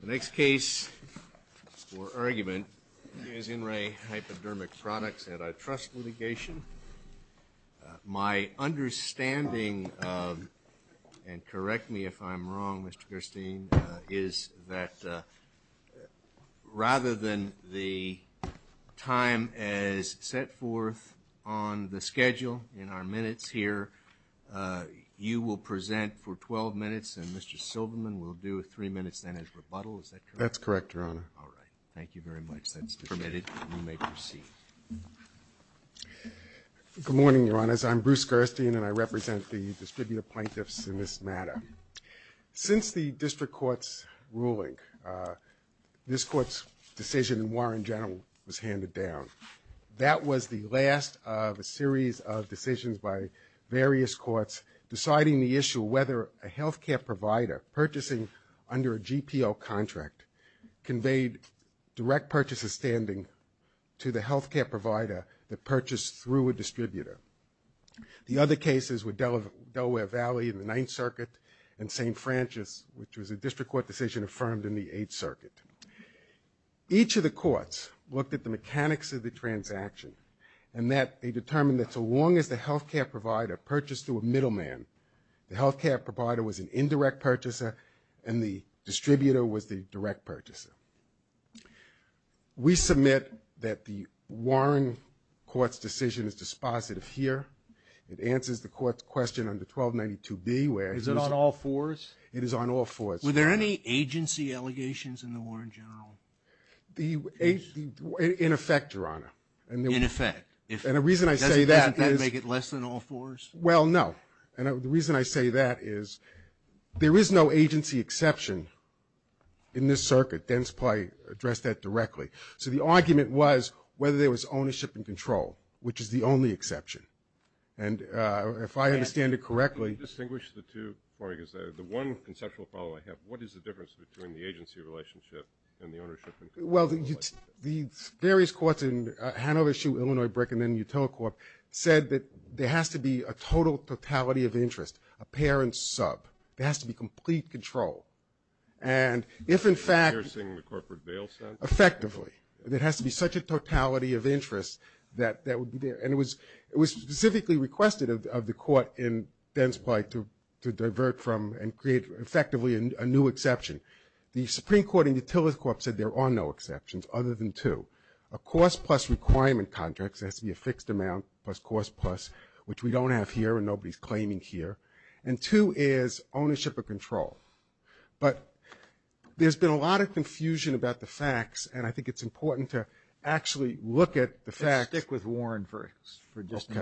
The next case for argument is INREHypodermic Products Antitrust litigation. My understanding of, and correct me if I'm wrong, Mr. Kirstein, is that rather than the time as set forth on the schedule in our minutes here, you will present for 12 minutes, and Mr. Silverman will do three minutes then as rebuttal. Is that correct? That's correct, Your Honor. All right. Thank you very much. That's permitted. You may proceed. Good morning, Your Honors. I'm Bruce Kirstein, and I represent the distributive plaintiffs in this matter. Since the district court's ruling, this court's decision in Warren General was handed down. That was the last of a series of decisions by various courts deciding the issue of whether a health care provider purchasing under a GPO contract conveyed direct purchaser standing to the health care provider that purchased through a distributor. The other cases were Delaware Valley in the Ninth Circuit and St. Francis, which was a district court decision affirmed in the Eighth Circuit. Each of the courts looked at the mechanics of the transaction, and that they determined that so long as the health care provider purchased through a middleman, the health care provider was an indirect purchaser and the distributor was the direct purchaser. We submit that the Warren court's decision is dispositive here. It answers the court's question under 1292B where it is on all fours. Were there any agency allegations in the Warren General case? In effect, Your Honor. In effect. And the reason I say that is – Doesn't that make it less than all fours? Well, no. And the reason I say that is there is no agency exception in this circuit. Dens probably addressed that directly. So the argument was whether there was ownership and control, which is the only exception. And if I understand it correctly – What is the difference between the agency relationship and the ownership and control relationship? Well, the various courts in Hanover, Hsu, Illinois, Brick, and then Utila Corp. said that there has to be a total totality of interest, a parent sub. There has to be complete control. And if, in fact – Enforcing the corporate bail sentence? Effectively. There has to be such a totality of interest that would be there. And it was specifically requested of the court in Dens' plight to divert from and create effectively a new exception. The Supreme Court in Utila Corp. said there are no exceptions other than two. A cost plus requirement contract, so it has to be a fixed amount plus cost plus, which we don't have here and nobody's claiming here. And two is ownership or control. But there's been a lot of confusion about the facts, and I think it's important to actually look at the facts. Let's stick with Warren for just a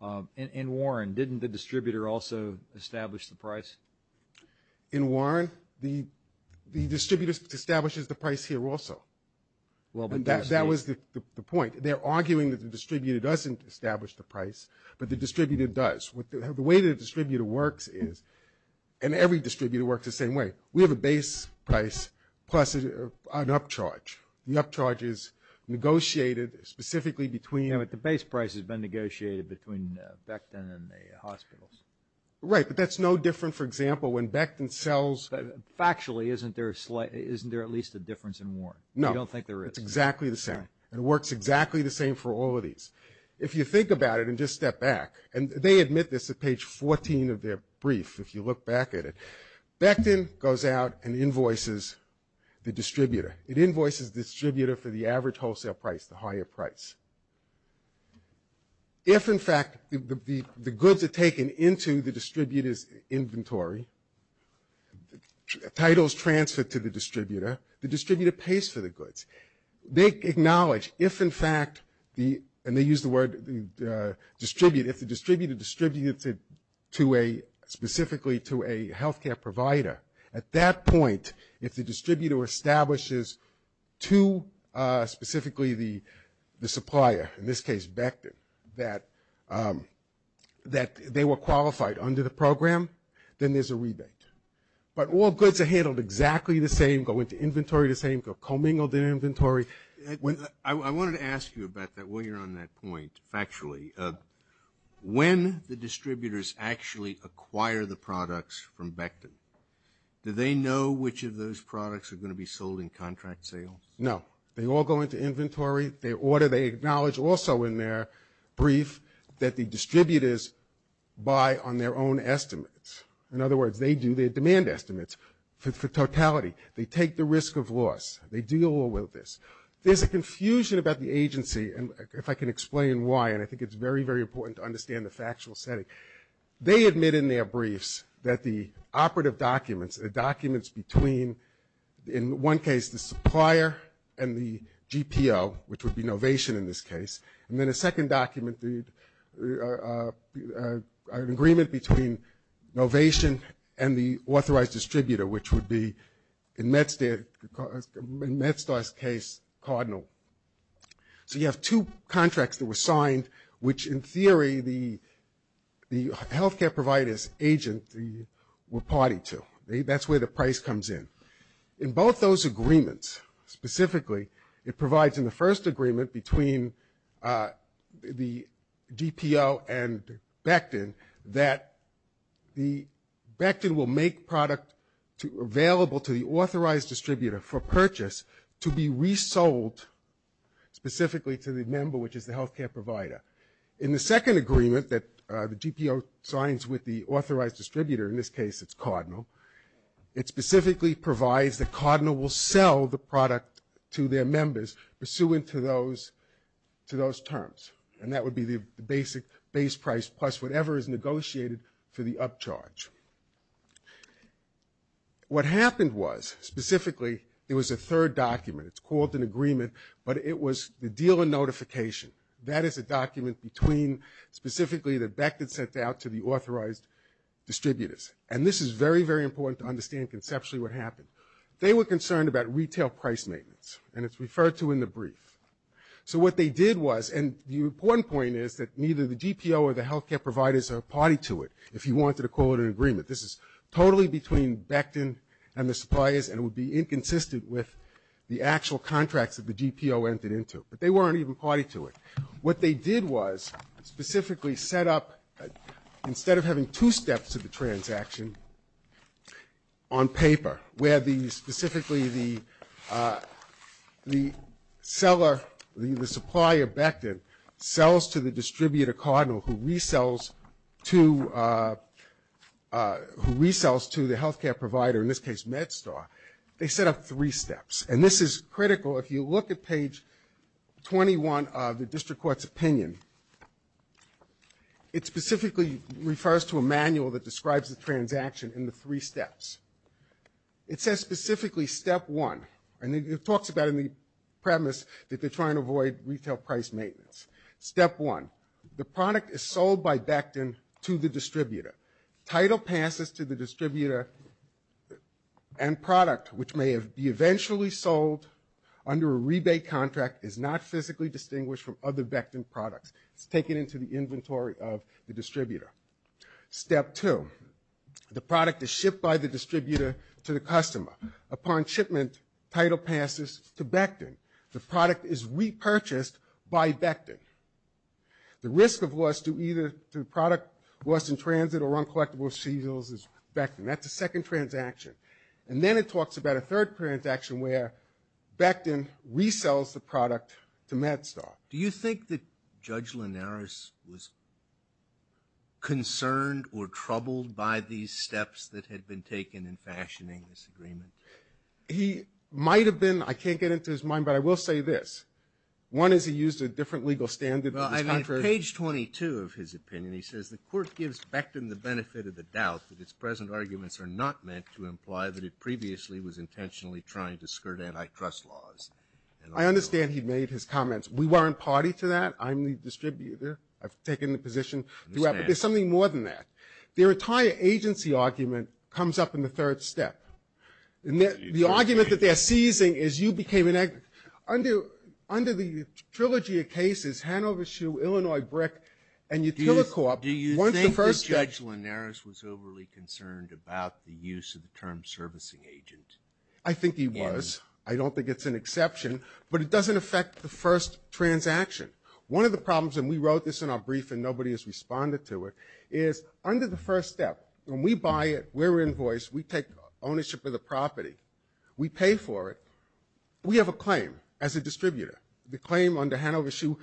moment. In Warren, didn't the distributor also establish the price? In Warren, the distributor establishes the price here also. That was the point. They're arguing that the distributor doesn't establish the price, but the distributor does. The way the distributor works is, and every distributor works the same way, we have a base price plus an upcharge. The upcharge is negotiated specifically between – Yeah, but the base price has been negotiated between Becton and the hospitals. Right, but that's no different, for example, when Becton sells – Factually, isn't there at least a difference in Warren? No. You don't think there is? It's exactly the same. It works exactly the same for all of these. If you think about it and just step back, and they admit this at page 14 of their brief if you look back at it, Becton goes out and invoices the distributor. It invoices the distributor for the average wholesale price, the higher price. If, in fact, the goods are taken into the distributor's inventory, titles transferred to the distributor, the distributor pays for the goods. They acknowledge if, in fact, the – and they use the word distribute. If the distributor distributes it to a – specifically to a healthcare provider, at that point, if the distributor establishes to specifically the supplier, in this case Becton, that they were qualified under the program, then there's a rebate. But all goods are handled exactly the same, go into inventory the same, go commingled in inventory. I wanted to ask you about that while you're on that point, factually. When the distributors actually acquire the products from Becton, do they know which of those products are going to be sold in contract sales? No. They all go into inventory. They order. They acknowledge also in their brief that the distributors buy on their own estimates. In other words, they do their demand estimates for totality. They take the risk of loss. They deal with this. There's a confusion about the agency, and if I can explain why, and I think it's very, very important to understand the factual setting. They admit in their briefs that the operative documents, the documents between, in one case, the supplier and the GPO, which would be Novation in this case, and then a second document, an agreement between Novation and the authorized distributor, which would be, in MedStar's case, Cardinal. So you have two contracts that were signed, which, in theory, the health care provider's agent were party to. That's where the price comes in. In both those agreements, specifically, it provides in the first agreement between the GPO and Becton that the Becton will make product available to the authorized distributor for purchase to be resold specifically to the member, which is the health care provider. In the second agreement that the GPO signs with the authorized distributor, in this case it's Cardinal, it specifically provides that Cardinal will sell the product to their members pursuant to those terms, and that would be the basic base price plus whatever is negotiated for the upcharge. What happened was, specifically, there was a third document. It's called an agreement, but it was the dealer notification. That is a document between, specifically, the Becton sent out to the authorized distributors. And this is very, very important to understand conceptually what happened. They were concerned about retail price maintenance, and it's referred to in the brief. So what they did was, and the important point is that neither the GPO or the health care providers are party to it if you wanted to call it an agreement. This is totally between Becton and the suppliers, and it would be inconsistent with the actual contracts that the GPO entered into. But they weren't even party to it. What they did was specifically set up, instead of having two steps of the transaction on paper, where specifically the seller, the supplier, Becton, sells to the distributor cardinal who resells to the health care provider, in this case MedStar, they set up three steps. And this is critical. If you look at page 21 of the district court's opinion, it specifically refers to a manual that describes the transaction in the three steps. It says specifically step one. And it talks about in the premise that they're trying to avoid retail price maintenance. Step one, the product is sold by Becton to the distributor. Title passes to the distributor, and product, which may be eventually sold under a rebate contract, is not physically distinguished from other Becton products. It's taken into the inventory of the distributor. Step two, the product is shipped by the distributor to the customer. Upon shipment, title passes to Becton. The product is repurchased by Becton. The risk of loss to either the product, loss in transit, or uncollectible seals is Becton. That's the second transaction. And then it talks about a third transaction where Becton resells the product to MedStar. Do you think that Judge Linares was concerned or troubled by these steps that had been taken in fashioning this agreement? He might have been. I can't get into his mind, but I will say this. One is he used a different legal standard. Page 22 of his opinion, he says, the Court gives Becton the benefit of the doubt that its present arguments are not meant to imply that it previously was intentionally trying to skirt antitrust laws. I understand he made his comments. We weren't party to that. I'm the distributor. I've taken the position throughout. But there's something more than that. The entire agency argument comes up in the third step. The argument that they're seizing is you became an agency. Under the trilogy of cases, Hanover Shoe, Illinois Brick, and Utilicorp, do you think that Judge Linares was overly concerned about the use of the term servicing agent? I think he was. I don't think it's an exception. But it doesn't affect the first transaction. One of the problems, and we wrote this in our brief and nobody has responded to it, is under the first step, when we buy it, we're invoiced, we take ownership of the property, we pay for it, we have a claim as a distributor. The claim under Hanover Shoe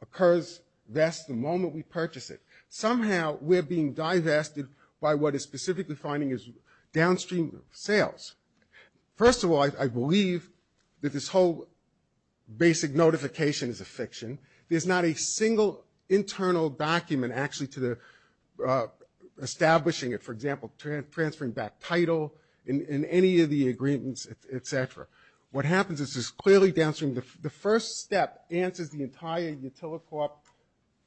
occurs, that's the moment we purchase it. Somehow we're being divested by what is specifically finding is downstream sales. First of all, I believe that this whole basic notification is a fiction. There's not a single internal document actually to the establishing it, for example, transferring back title in any of the agreements, et cetera. What happens is it's clearly downstream. The first step answers the entire Utilicorp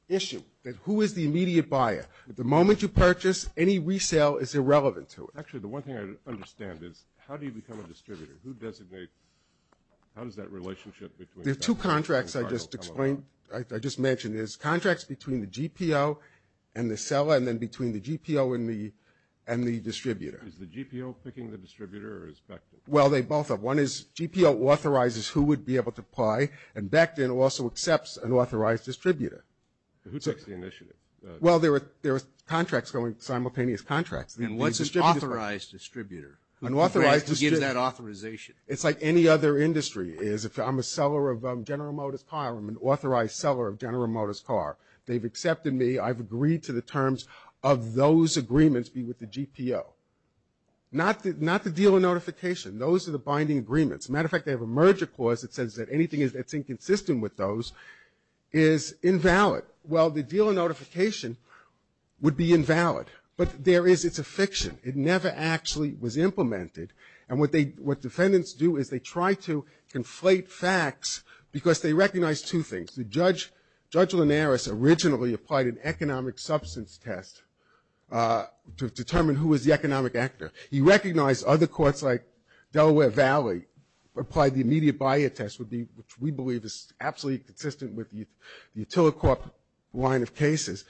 issue. Who is the immediate buyer? The moment you purchase, any resale is irrelevant to it. Actually, the one thing I don't understand is how do you become a distributor? Who designates, how does that relationship between the title tell about? There are two contracts I just explained, I just mentioned. There's contracts between the GPO and the seller and then between the GPO and the distributor. Is the GPO picking the distributor or is Beckton? Well, they both are. One is GPO authorizes who would be able to apply, and Beckton also accepts an authorized distributor. Who takes the initiative? Well, there are contracts going, simultaneous contracts. And what's an authorized distributor? An authorized distributor. Who gives that authorization? It's like any other industry is. If I'm a seller of General Motors car, I'm an authorized seller of General Motors car. They've accepted me. I've agreed to the terms of those agreements be with the GPO. Not the deal of notification. Those are the binding agreements. As a matter of fact, they have a merger clause that says that anything that's inconsistent with those is invalid. Well, the deal of notification would be invalid. But there is, it's a fiction. It never actually was implemented. And what defendants do is they try to conflate facts because they recognize two things. Judge Linares originally applied an economic substance test to determine who was the economic actor. He recognized other courts like Delaware Valley applied the immediate buyer test, which we believe is absolutely consistent with the Utilicorp line of cases.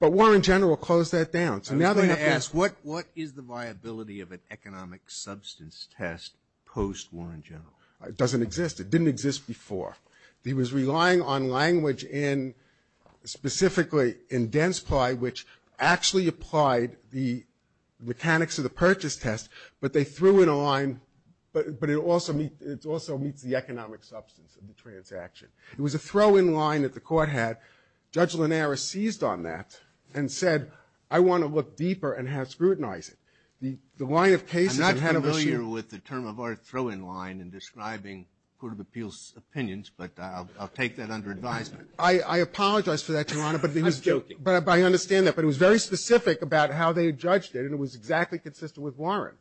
But Warren General closed that down. I was going to ask, what is the viability of an economic substance test post-Warren General? It doesn't exist. It didn't exist before. He was relying on language in, specifically in Densply, which actually applied the mechanics of the purchase test. But they threw in a line, but it also meets the economic substance of the transaction. It was a throw-in line that the court had. Judge Linares seized on that and said, I want to look deeper and have scrutinized it. The line of cases that had a machine. I'm not familiar with the term of our throw-in line in describing Court of Appeals' opinions, but I'll take that under advisement. I apologize for that, Your Honor. I'm joking. But I understand that. But it was very specific about how they judged it, and it was exactly consistent with Warren.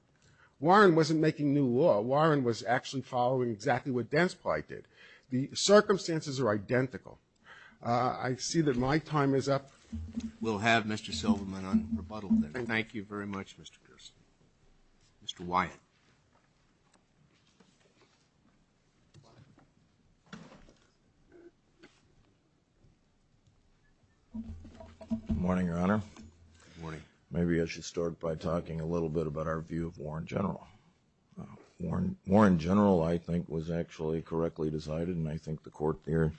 Warren wasn't making new law. Warren was actually following exactly what Densply did. The circumstances are identical. I see that my time is up. We'll have Mr. Silverman on rebuttal. Thank you. Thank you very much, Mr. Pearson. Mr. Wyatt. Good morning, Your Honor. Good morning. Maybe I should start by talking a little bit about our view of Warren General. Warren General, I think, was actually correctly decided, and I think the court there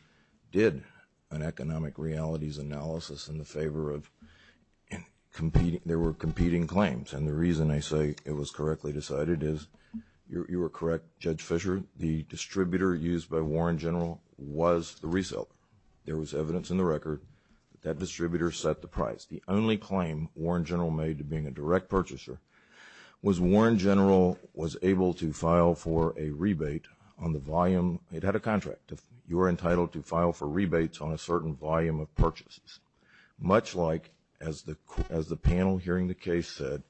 did an economic realities analysis in the favor of competing. They were competing claims, and the reason I say it was correctly decided is you were correct, Judge Fischer. The distributor used by Warren General was the resale. There was evidence in the record that that distributor set the price. The only claim Warren General made to being a direct purchaser was Warren General was able to file for a rebate on the volume. It had a contract. You were entitled to file for rebates on a certain volume of purchases. Much like, as the panel hearing the case said,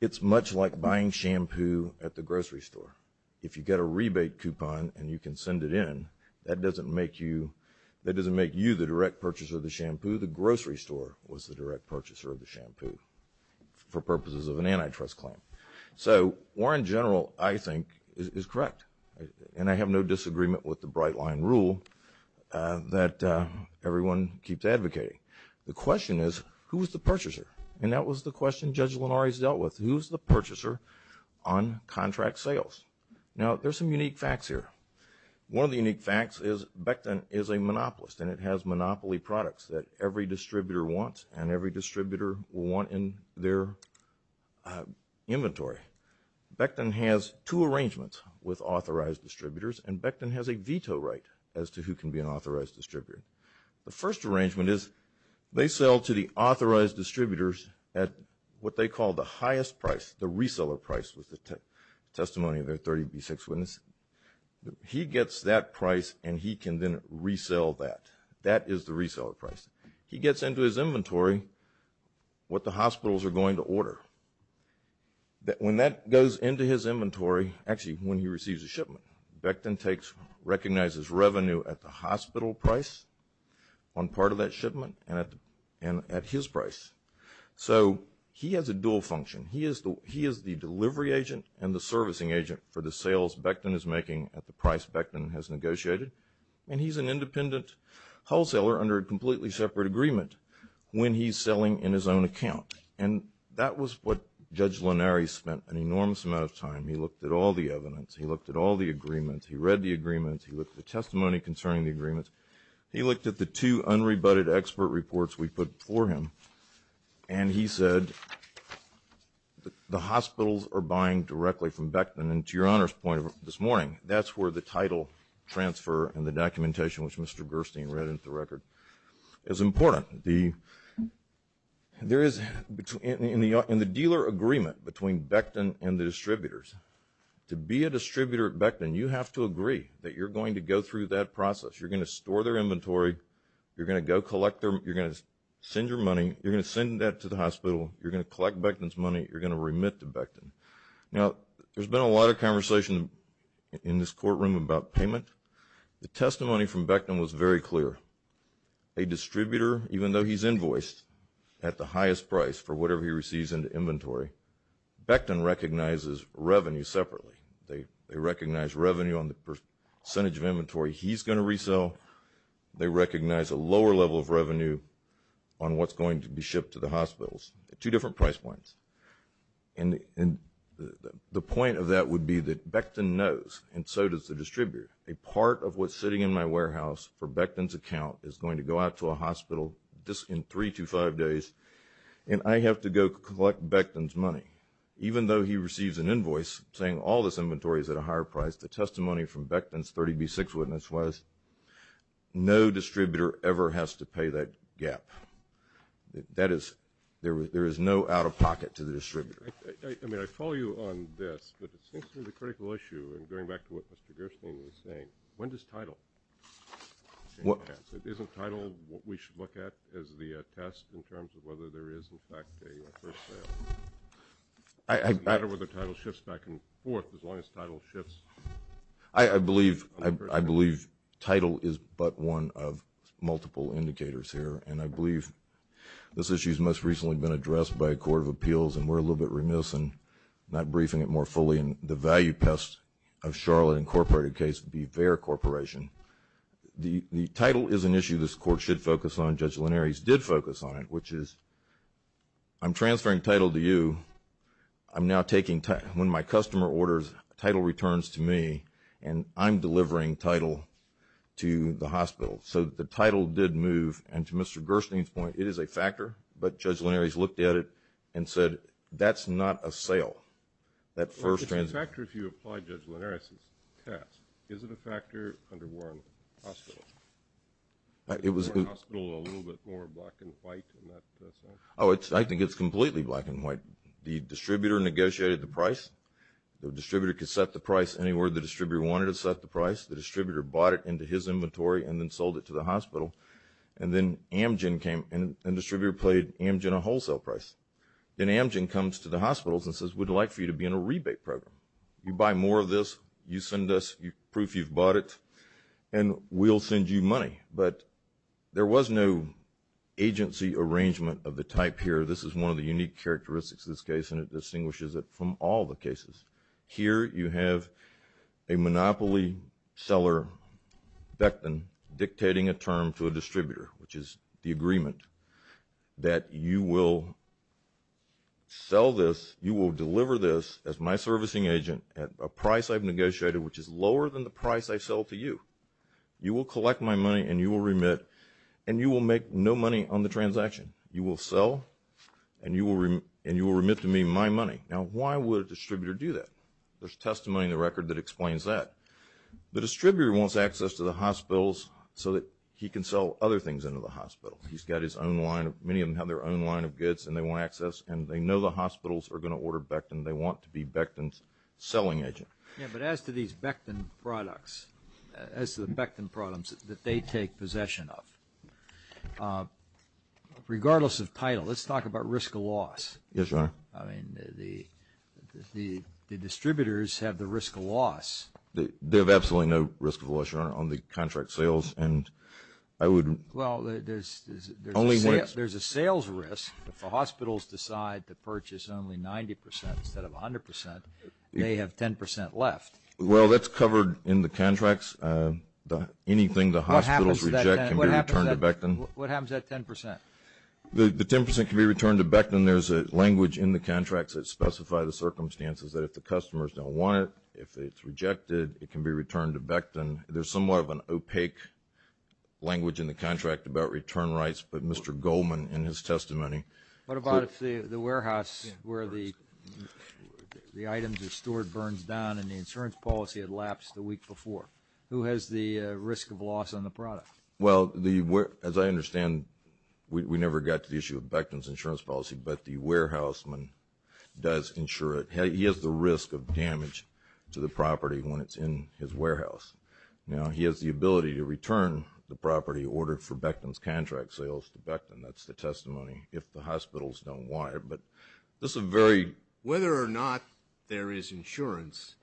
it's much like buying shampoo at the grocery store. If you get a rebate coupon and you can send it in, that doesn't make you the direct purchaser of the shampoo. The grocery store was the direct purchaser of the shampoo for purposes of an antitrust claim. So Warren General, I think, is correct, and I have no disagreement with the bright line rule that everyone keeps advocating. The question is, who was the purchaser? And that was the question Judge Linares dealt with. Who's the purchaser on contract sales? Now, there's some unique facts here. One of the unique facts is Becton is a monopolist, and it has monopoly products that every distributor wants, and every distributor will want in their inventory. Becton has two arrangements with authorized distributors, and Becton has a veto right as to who can be an authorized distributor. The first arrangement is they sell to the authorized distributors at what they call the highest price, the reseller price was the testimony of their 30B6 witness. He gets that price, and he can then resell that. That is the reseller price. He gets into his inventory what the hospitals are going to order. When that goes into his inventory, actually when he receives a shipment, Becton recognizes revenue at the hospital price on part of that shipment and at his price. So he has a dual function. He is the delivery agent and the servicing agent for the sales Becton is making at the price Becton has negotiated, and he's an independent wholesaler under a completely separate agreement when he's selling in his own account. And that was what Judge Lanari spent an enormous amount of time. He looked at all the evidence. He looked at all the agreements. He read the agreements. He looked at the testimony concerning the agreements. He looked at the two unrebutted expert reports we put before him, and he said the hospitals are buying directly from Becton, and to Your Honor's point this morning, that's where the title transfer and the documentation, which Mr. Gerstein read into the record, is important. In the dealer agreement between Becton and the distributors, to be a distributor at Becton you have to agree that you're going to go through that process. You're going to store their inventory. You're going to go collect their money. You're going to send your money. You're going to send that to the hospital. You're going to collect Becton's money. You're going to remit to Becton. Now, there's been a lot of conversation in this courtroom about payment. The testimony from Becton was very clear. A distributor, even though he's invoiced at the highest price for whatever he receives in the inventory, Becton recognizes revenue separately. They recognize revenue on the percentage of inventory he's going to resell. They recognize a lower level of revenue on what's going to be shipped to the hospitals at two different price points. And the point of that would be that Becton knows, and so does the distributor, a part of what's sitting in my warehouse for Becton's account is going to go out to a hospital in three to five days, and I have to go collect Becton's money. Even though he receives an invoice saying all this inventory is at a higher price, the testimony from Becton's 30B6 witness was no distributor ever has to pay that gap. That is, there is no out-of-pocket to the distributor. I mean, I follow you on this, but it seems to me the critical issue, and going back to what Mr. Gerstein was saying, when does title change hands? If it isn't title, what we should look at as the test in terms of whether there is, in fact, a first sale? Does it matter whether title shifts back and forth as long as title shifts? I believe title is but one of multiple indicators here, and I believe this issue has most recently been addressed by a court of appeals, and we're a little bit remiss in not briefing it more fully, and the value test of Charlotte Incorporated case would be Vare Corporation. The title is an issue this court should focus on. Judge Linares did focus on it, which is I'm transferring title to you. I'm now taking – when my customer orders, title returns to me, and I'm delivering title to the hospital. So the title did move, and to Mr. Gerstein's point, it is a factor, but Judge Linares looked at it and said that's not a sale, that first transaction. It's a factor if you apply Judge Linares' test. Is it a factor under Warren Hospital? Is Warren Hospital a little bit more black and white in that sense? Oh, I think it's completely black and white. The distributor negotiated the price. The distributor could set the price anywhere the distributor wanted to set the price. The distributor bought it into his inventory and then sold it to the hospital, and then Amgen came and the distributor played Amgen a wholesale price. Then Amgen comes to the hospitals and says we'd like for you to be in a rebate program. You buy more of this, you send us proof you've bought it, and we'll send you money. But there was no agency arrangement of the type here. This is one of the unique characteristics of this case, and it distinguishes it from all the cases. Here you have a monopoly seller, Becton, dictating a term to a distributor, which is the agreement that you will sell this, you will deliver this as my servicing agent at a price I've negotiated which is lower than the price I sell to you. You will collect my money and you will remit, and you will make no money on the transaction. You will sell and you will remit to me my money. Now, why would a distributor do that? There's testimony in the record that explains that. The distributor wants access to the hospitals so that he can sell other things into the hospital. He's got his own line. Many of them have their own line of goods and they want access, and they know the hospitals are going to order Becton. They want to be Becton's selling agent. Yeah, but as to these Becton products, as to the Becton products that they take possession of, regardless of title, let's talk about risk of loss. Yes, Your Honor. I mean, the distributors have the risk of loss. They have absolutely no risk of loss, Your Honor, on the contract sales. Well, there's a sales risk. If the hospitals decide to purchase only 90 percent instead of 100 percent, they have 10 percent left. Well, that's covered in the contracts. Anything the hospitals reject can be returned to Becton. What happens to that 10 percent? The 10 percent can be returned to Becton. There's a language in the contracts that specify the circumstances that if the customers don't want it, if it's rejected, it can be returned to Becton. There's somewhat of an opaque language in the contract about return rights, but Mr. Goldman in his testimony. What about if the warehouse where the items are stored burns down and the insurance policy had lapsed the week before? Who has the risk of loss on the product? Well, as I understand, we never got to the issue of Becton's insurance policy, but the warehouseman does insure it. He has the risk of damage to the property when it's in his warehouse. Now, he has the ability to return the property ordered for Becton's contract sales to Becton. That's the testimony. If the hospitals don't want it, but this is a very – Whether or not there is insurance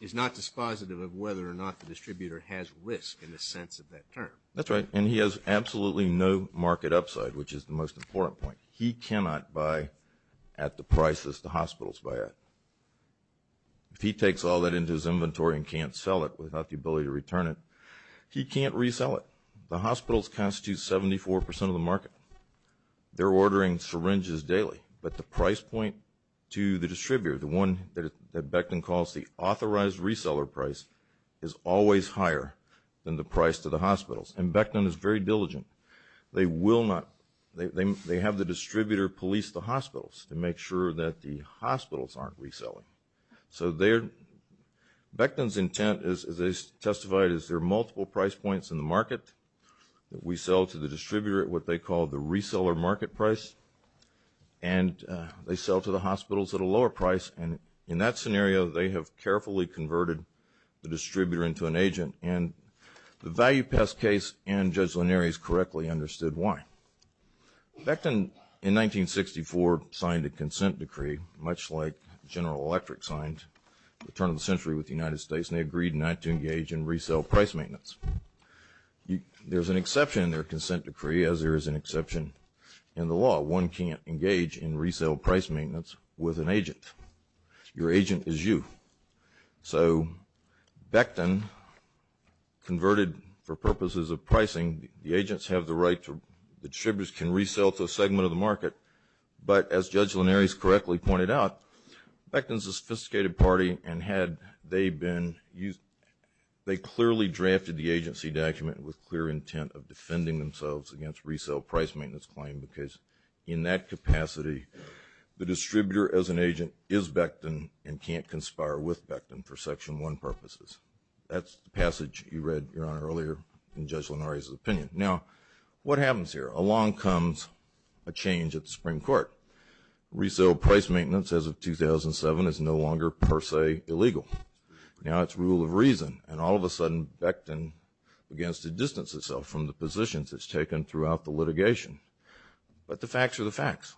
is not dispositive of whether or not the distributor has risk in the sense of that term. That's right, and he has absolutely no market upside, which is the most important point. He cannot buy at the prices the hospitals buy at. If he takes all that into his inventory and can't sell it without the ability to return it, he can't resell it. The hospitals constitute 74% of the market. They're ordering syringes daily, but the price point to the distributor, the one that Becton calls the authorized reseller price, is always higher than the price to the hospitals, and Becton is very diligent. They will not – they have the distributor police the hospitals to make sure that the hospitals aren't reselling. So Becton's intent, as they testified, is there are multiple price points in the market. We sell to the distributor at what they call the reseller market price, and they sell to the hospitals at a lower price, and in that scenario, they have carefully converted the distributor into an agent, and the value pass case and Judge Lanieri's correctly understood why. Becton, in 1964, signed a consent decree, much like General Electric signed at the turn of the century with the United States, and they agreed not to engage in resale price maintenance. There's an exception in their consent decree, as there is an exception in the law. One can't engage in resale price maintenance with an agent. Your agent is you. So Becton converted for purposes of pricing. The agents have the right to – the distributors can resell to a segment of the market, but as Judge Lanieri's correctly pointed out, Becton's a sophisticated party, and had they been – they clearly drafted the agency document with clear intent of defending themselves against resale price maintenance claim, because in that capacity, the distributor as an agent is Becton and can't conspire with Becton for Section 1 purposes. That's the passage you read, Your Honor, earlier in Judge Lanieri's opinion. Now, what happens here? Along comes a change at the Supreme Court. Resale price maintenance as of 2007 is no longer per se illegal. Now it's rule of reason, and all of a sudden, Becton begins to distance itself from the positions it's taken throughout the litigation. But the facts are the facts.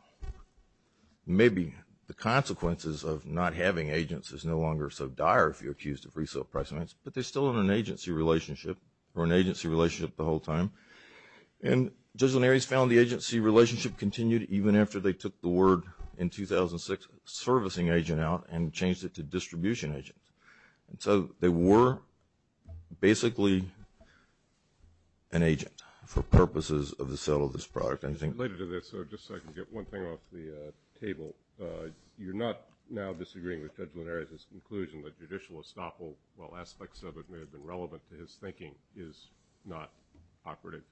Maybe the consequences of not having agents is no longer so dire if you're accused of resale price maintenance, but they're still in an agency relationship, or an agency relationship the whole time. And Judge Lanieri's found the agency relationship continued even after they took the word in 2006, servicing agent out, and changed it to distribution agent. And so they were basically an agent for purposes of the sale of this product. Anything related to this? Just so I can get one thing off the table. You're not now disagreeing with Judge Lanieri's conclusion that judicial estoppel, while aspects of it may have been relevant to his thinking, is not operative?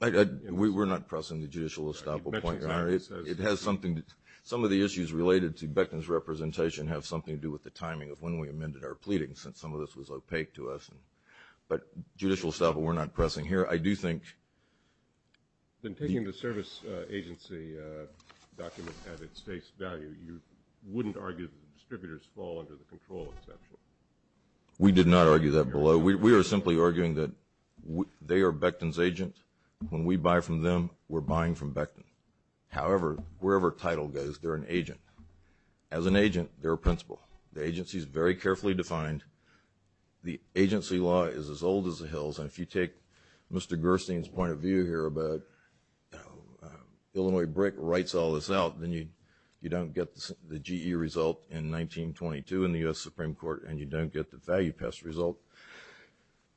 We're not pressing the judicial estoppel point, Your Honor. It has something to do with some of the issues related to Becton's representation have something to do with the timing of when we amended our pleading, since some of this was opaque to us. But judicial estoppel we're not pressing here. I do think that taking the service agency document at its face value, you wouldn't argue that the distributors fall under the control exception. We did not argue that below. We are simply arguing that they are Becton's agent. When we buy from them, we're buying from Becton. However, wherever title goes, they're an agent. As an agent, they're a principal. The agency is very carefully defined. The agency law is as old as the hills, and if you take Mr. Gerstein's point of view here about Illinois brick rights all this out, then you don't get the GE result in 1922 in the U.S. Supreme Court, and you don't get the value passed result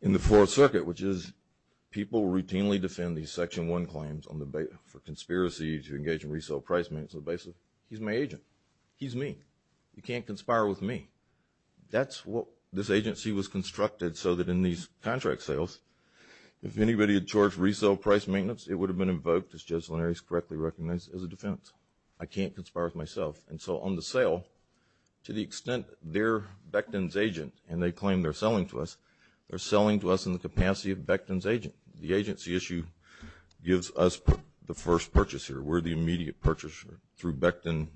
in the Fourth Circuit, which is people routinely defend these Section 1 claims for conspiracy to engage in resale price maintenance. He's my agent. He's me. You can't conspire with me. That's what this agency was constructed so that in these contract sales, if anybody had charged resale price maintenance, it would have been invoked as just when it is correctly recognized as a defense. I can't conspire with myself. And so on the sale, to the extent they're Becton's agent and they claim they're selling to us, they're selling to us in the capacity of Becton's agent. The agency issue gives us the first purchase here. We're the immediate purchaser through Becton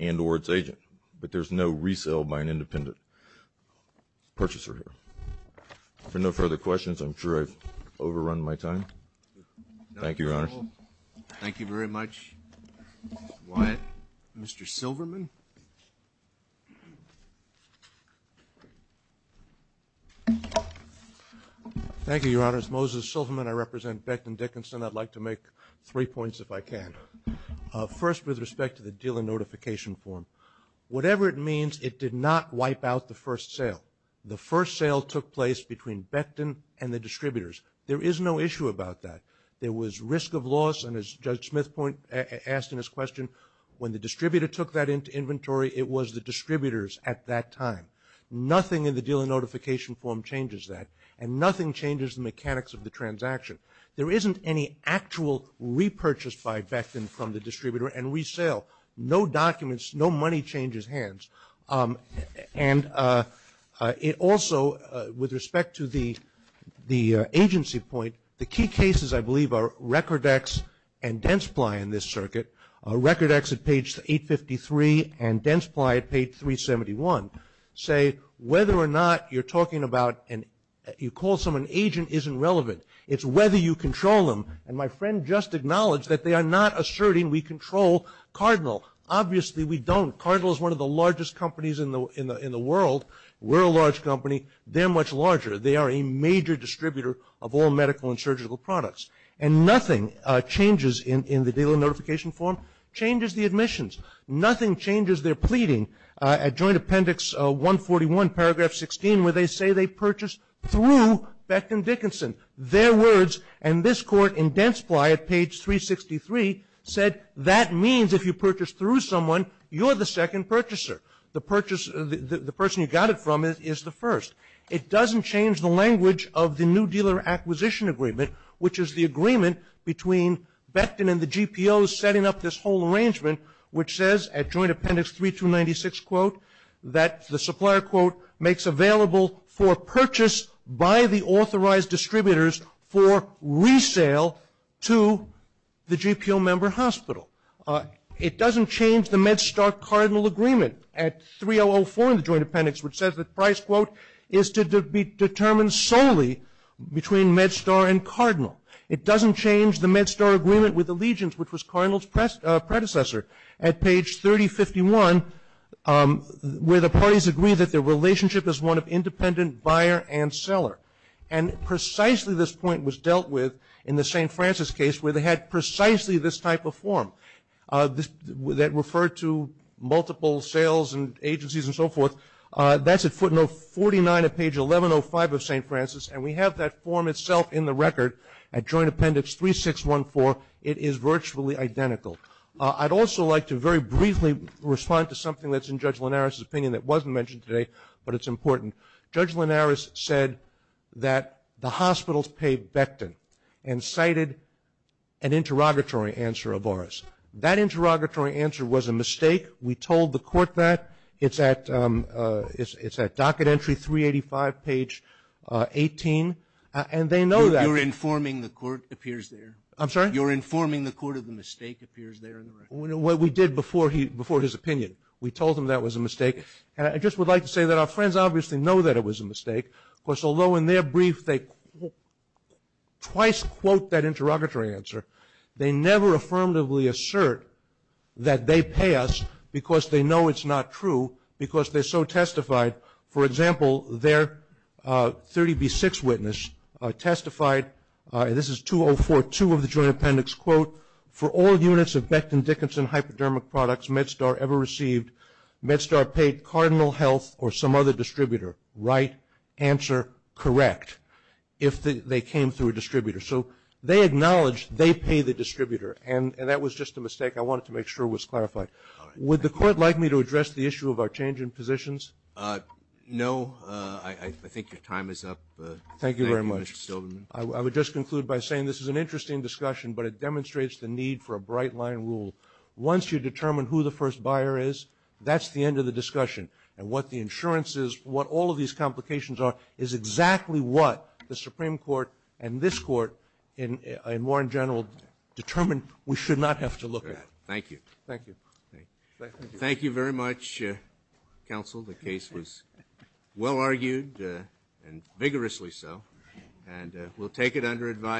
and or its agent, but there's no resale by an independent purchaser here. If there are no further questions, I'm sure I've overrun my time. Thank you, Your Honor. Thank you very much, Wyatt. Mr. Silverman. Thank you, Your Honors. Moses Silverman. I represent Becton Dickinson. I'd like to make three points if I can. First, with respect to the dealer notification form, whatever it means, it did not wipe out the first sale. The first sale took place between Becton and the distributors. There is no issue about that. There was risk of loss, and as Judge Smith asked in his question, when the distributor took that into inventory, it was the distributors at that time. Nothing in the dealer notification form changes that, and nothing changes the mechanics of the transaction. There isn't any actual repurchase by Becton from the distributor and resale. No documents, no money changes hands. And it also, with respect to the agency point, the key cases I believe are Rekordex and Densply in this circuit. Rekordex at page 853, and Densply at page 371, say whether or not you're talking about and you call someone agent isn't relevant. It's whether you control them, and my friend just acknowledged that they are not asserting we control Cardinal. Obviously, we don't. Cardinal is one of the largest companies in the world. We're a large company. They're much larger. They are a major distributor of all medical and surgical products, and nothing changes in the dealer notification form, changes the admissions. Nothing changes their pleading. At Joint Appendix 141, paragraph 16, where they say they purchased through Becton Dickinson, their words, and this court in Densply at page 363 said, that means if you purchase through someone, you're the second purchaser. The person you got it from is the first. It doesn't change the language of the new dealer acquisition agreement, which is the agreement between Becton and the GPOs setting up this whole arrangement, which says at Joint Appendix 3296, quote, that the supplier, quote, makes available for purchase by the authorized distributors for resale to the It doesn't change the MedStar-Cardinal agreement at 3004 in the Joint Appendix, which says that price, quote, is to be determined solely between MedStar and Cardinal. It doesn't change the MedStar agreement with Allegiance, which was Cardinal's predecessor, at page 3051, where the parties agree that their relationship is one of independent buyer and seller, and precisely this point was dealt with in the St. Francis case where they had precisely this type of form that referred to multiple sales and agencies and so forth. That's at footnote 49 of page 1105 of St. Francis, and we have that form itself in the record at Joint Appendix 3614. It is virtually identical. I'd also like to very briefly respond to something that's in Judge Linares' opinion that wasn't mentioned today, but it's important. Judge Linares said that the hospitals paid Becton and cited an interrogatory answer of ours. That interrogatory answer was a mistake. We told the court that. It's at docket entry 385, page 18, and they know that. You're informing the court, appears there. I'm sorry? You're informing the court of the mistake, appears there in the record. Well, we did before his opinion. We told him that was a mistake, and I just would like to say that our friends obviously know that it was a mistake. Of course, although in their brief they twice quote that interrogatory answer, they never affirmatively assert that they pay us because they know it's not true because they're so testified. For example, their 30B6 witness testified, and this is 2042 of the Joint Appendix, quote, for all units of Becton Dickinson hypodermic products MedStar ever received, MedStar paid Cardinal Health or some other distributor, right, answer, correct, if they came through a distributor. So they acknowledged they pay the distributor, and that was just a mistake. I wanted to make sure it was clarified. Would the court like me to address the issue of our change in positions? No. I think your time is up. Thank you, Mr. Stillman. I would just conclude by saying this is an interesting discussion, but it demonstrates the need for a bright line rule. Once you determine who the first buyer is, that's the end of the discussion. And what the insurance is, what all of these complications are, is exactly what the Supreme Court and this court and Warren General determined we should not have to look at. Thank you. Thank you. Thank you very much, counsel. The case was well argued and vigorously so, and we'll take it under advice.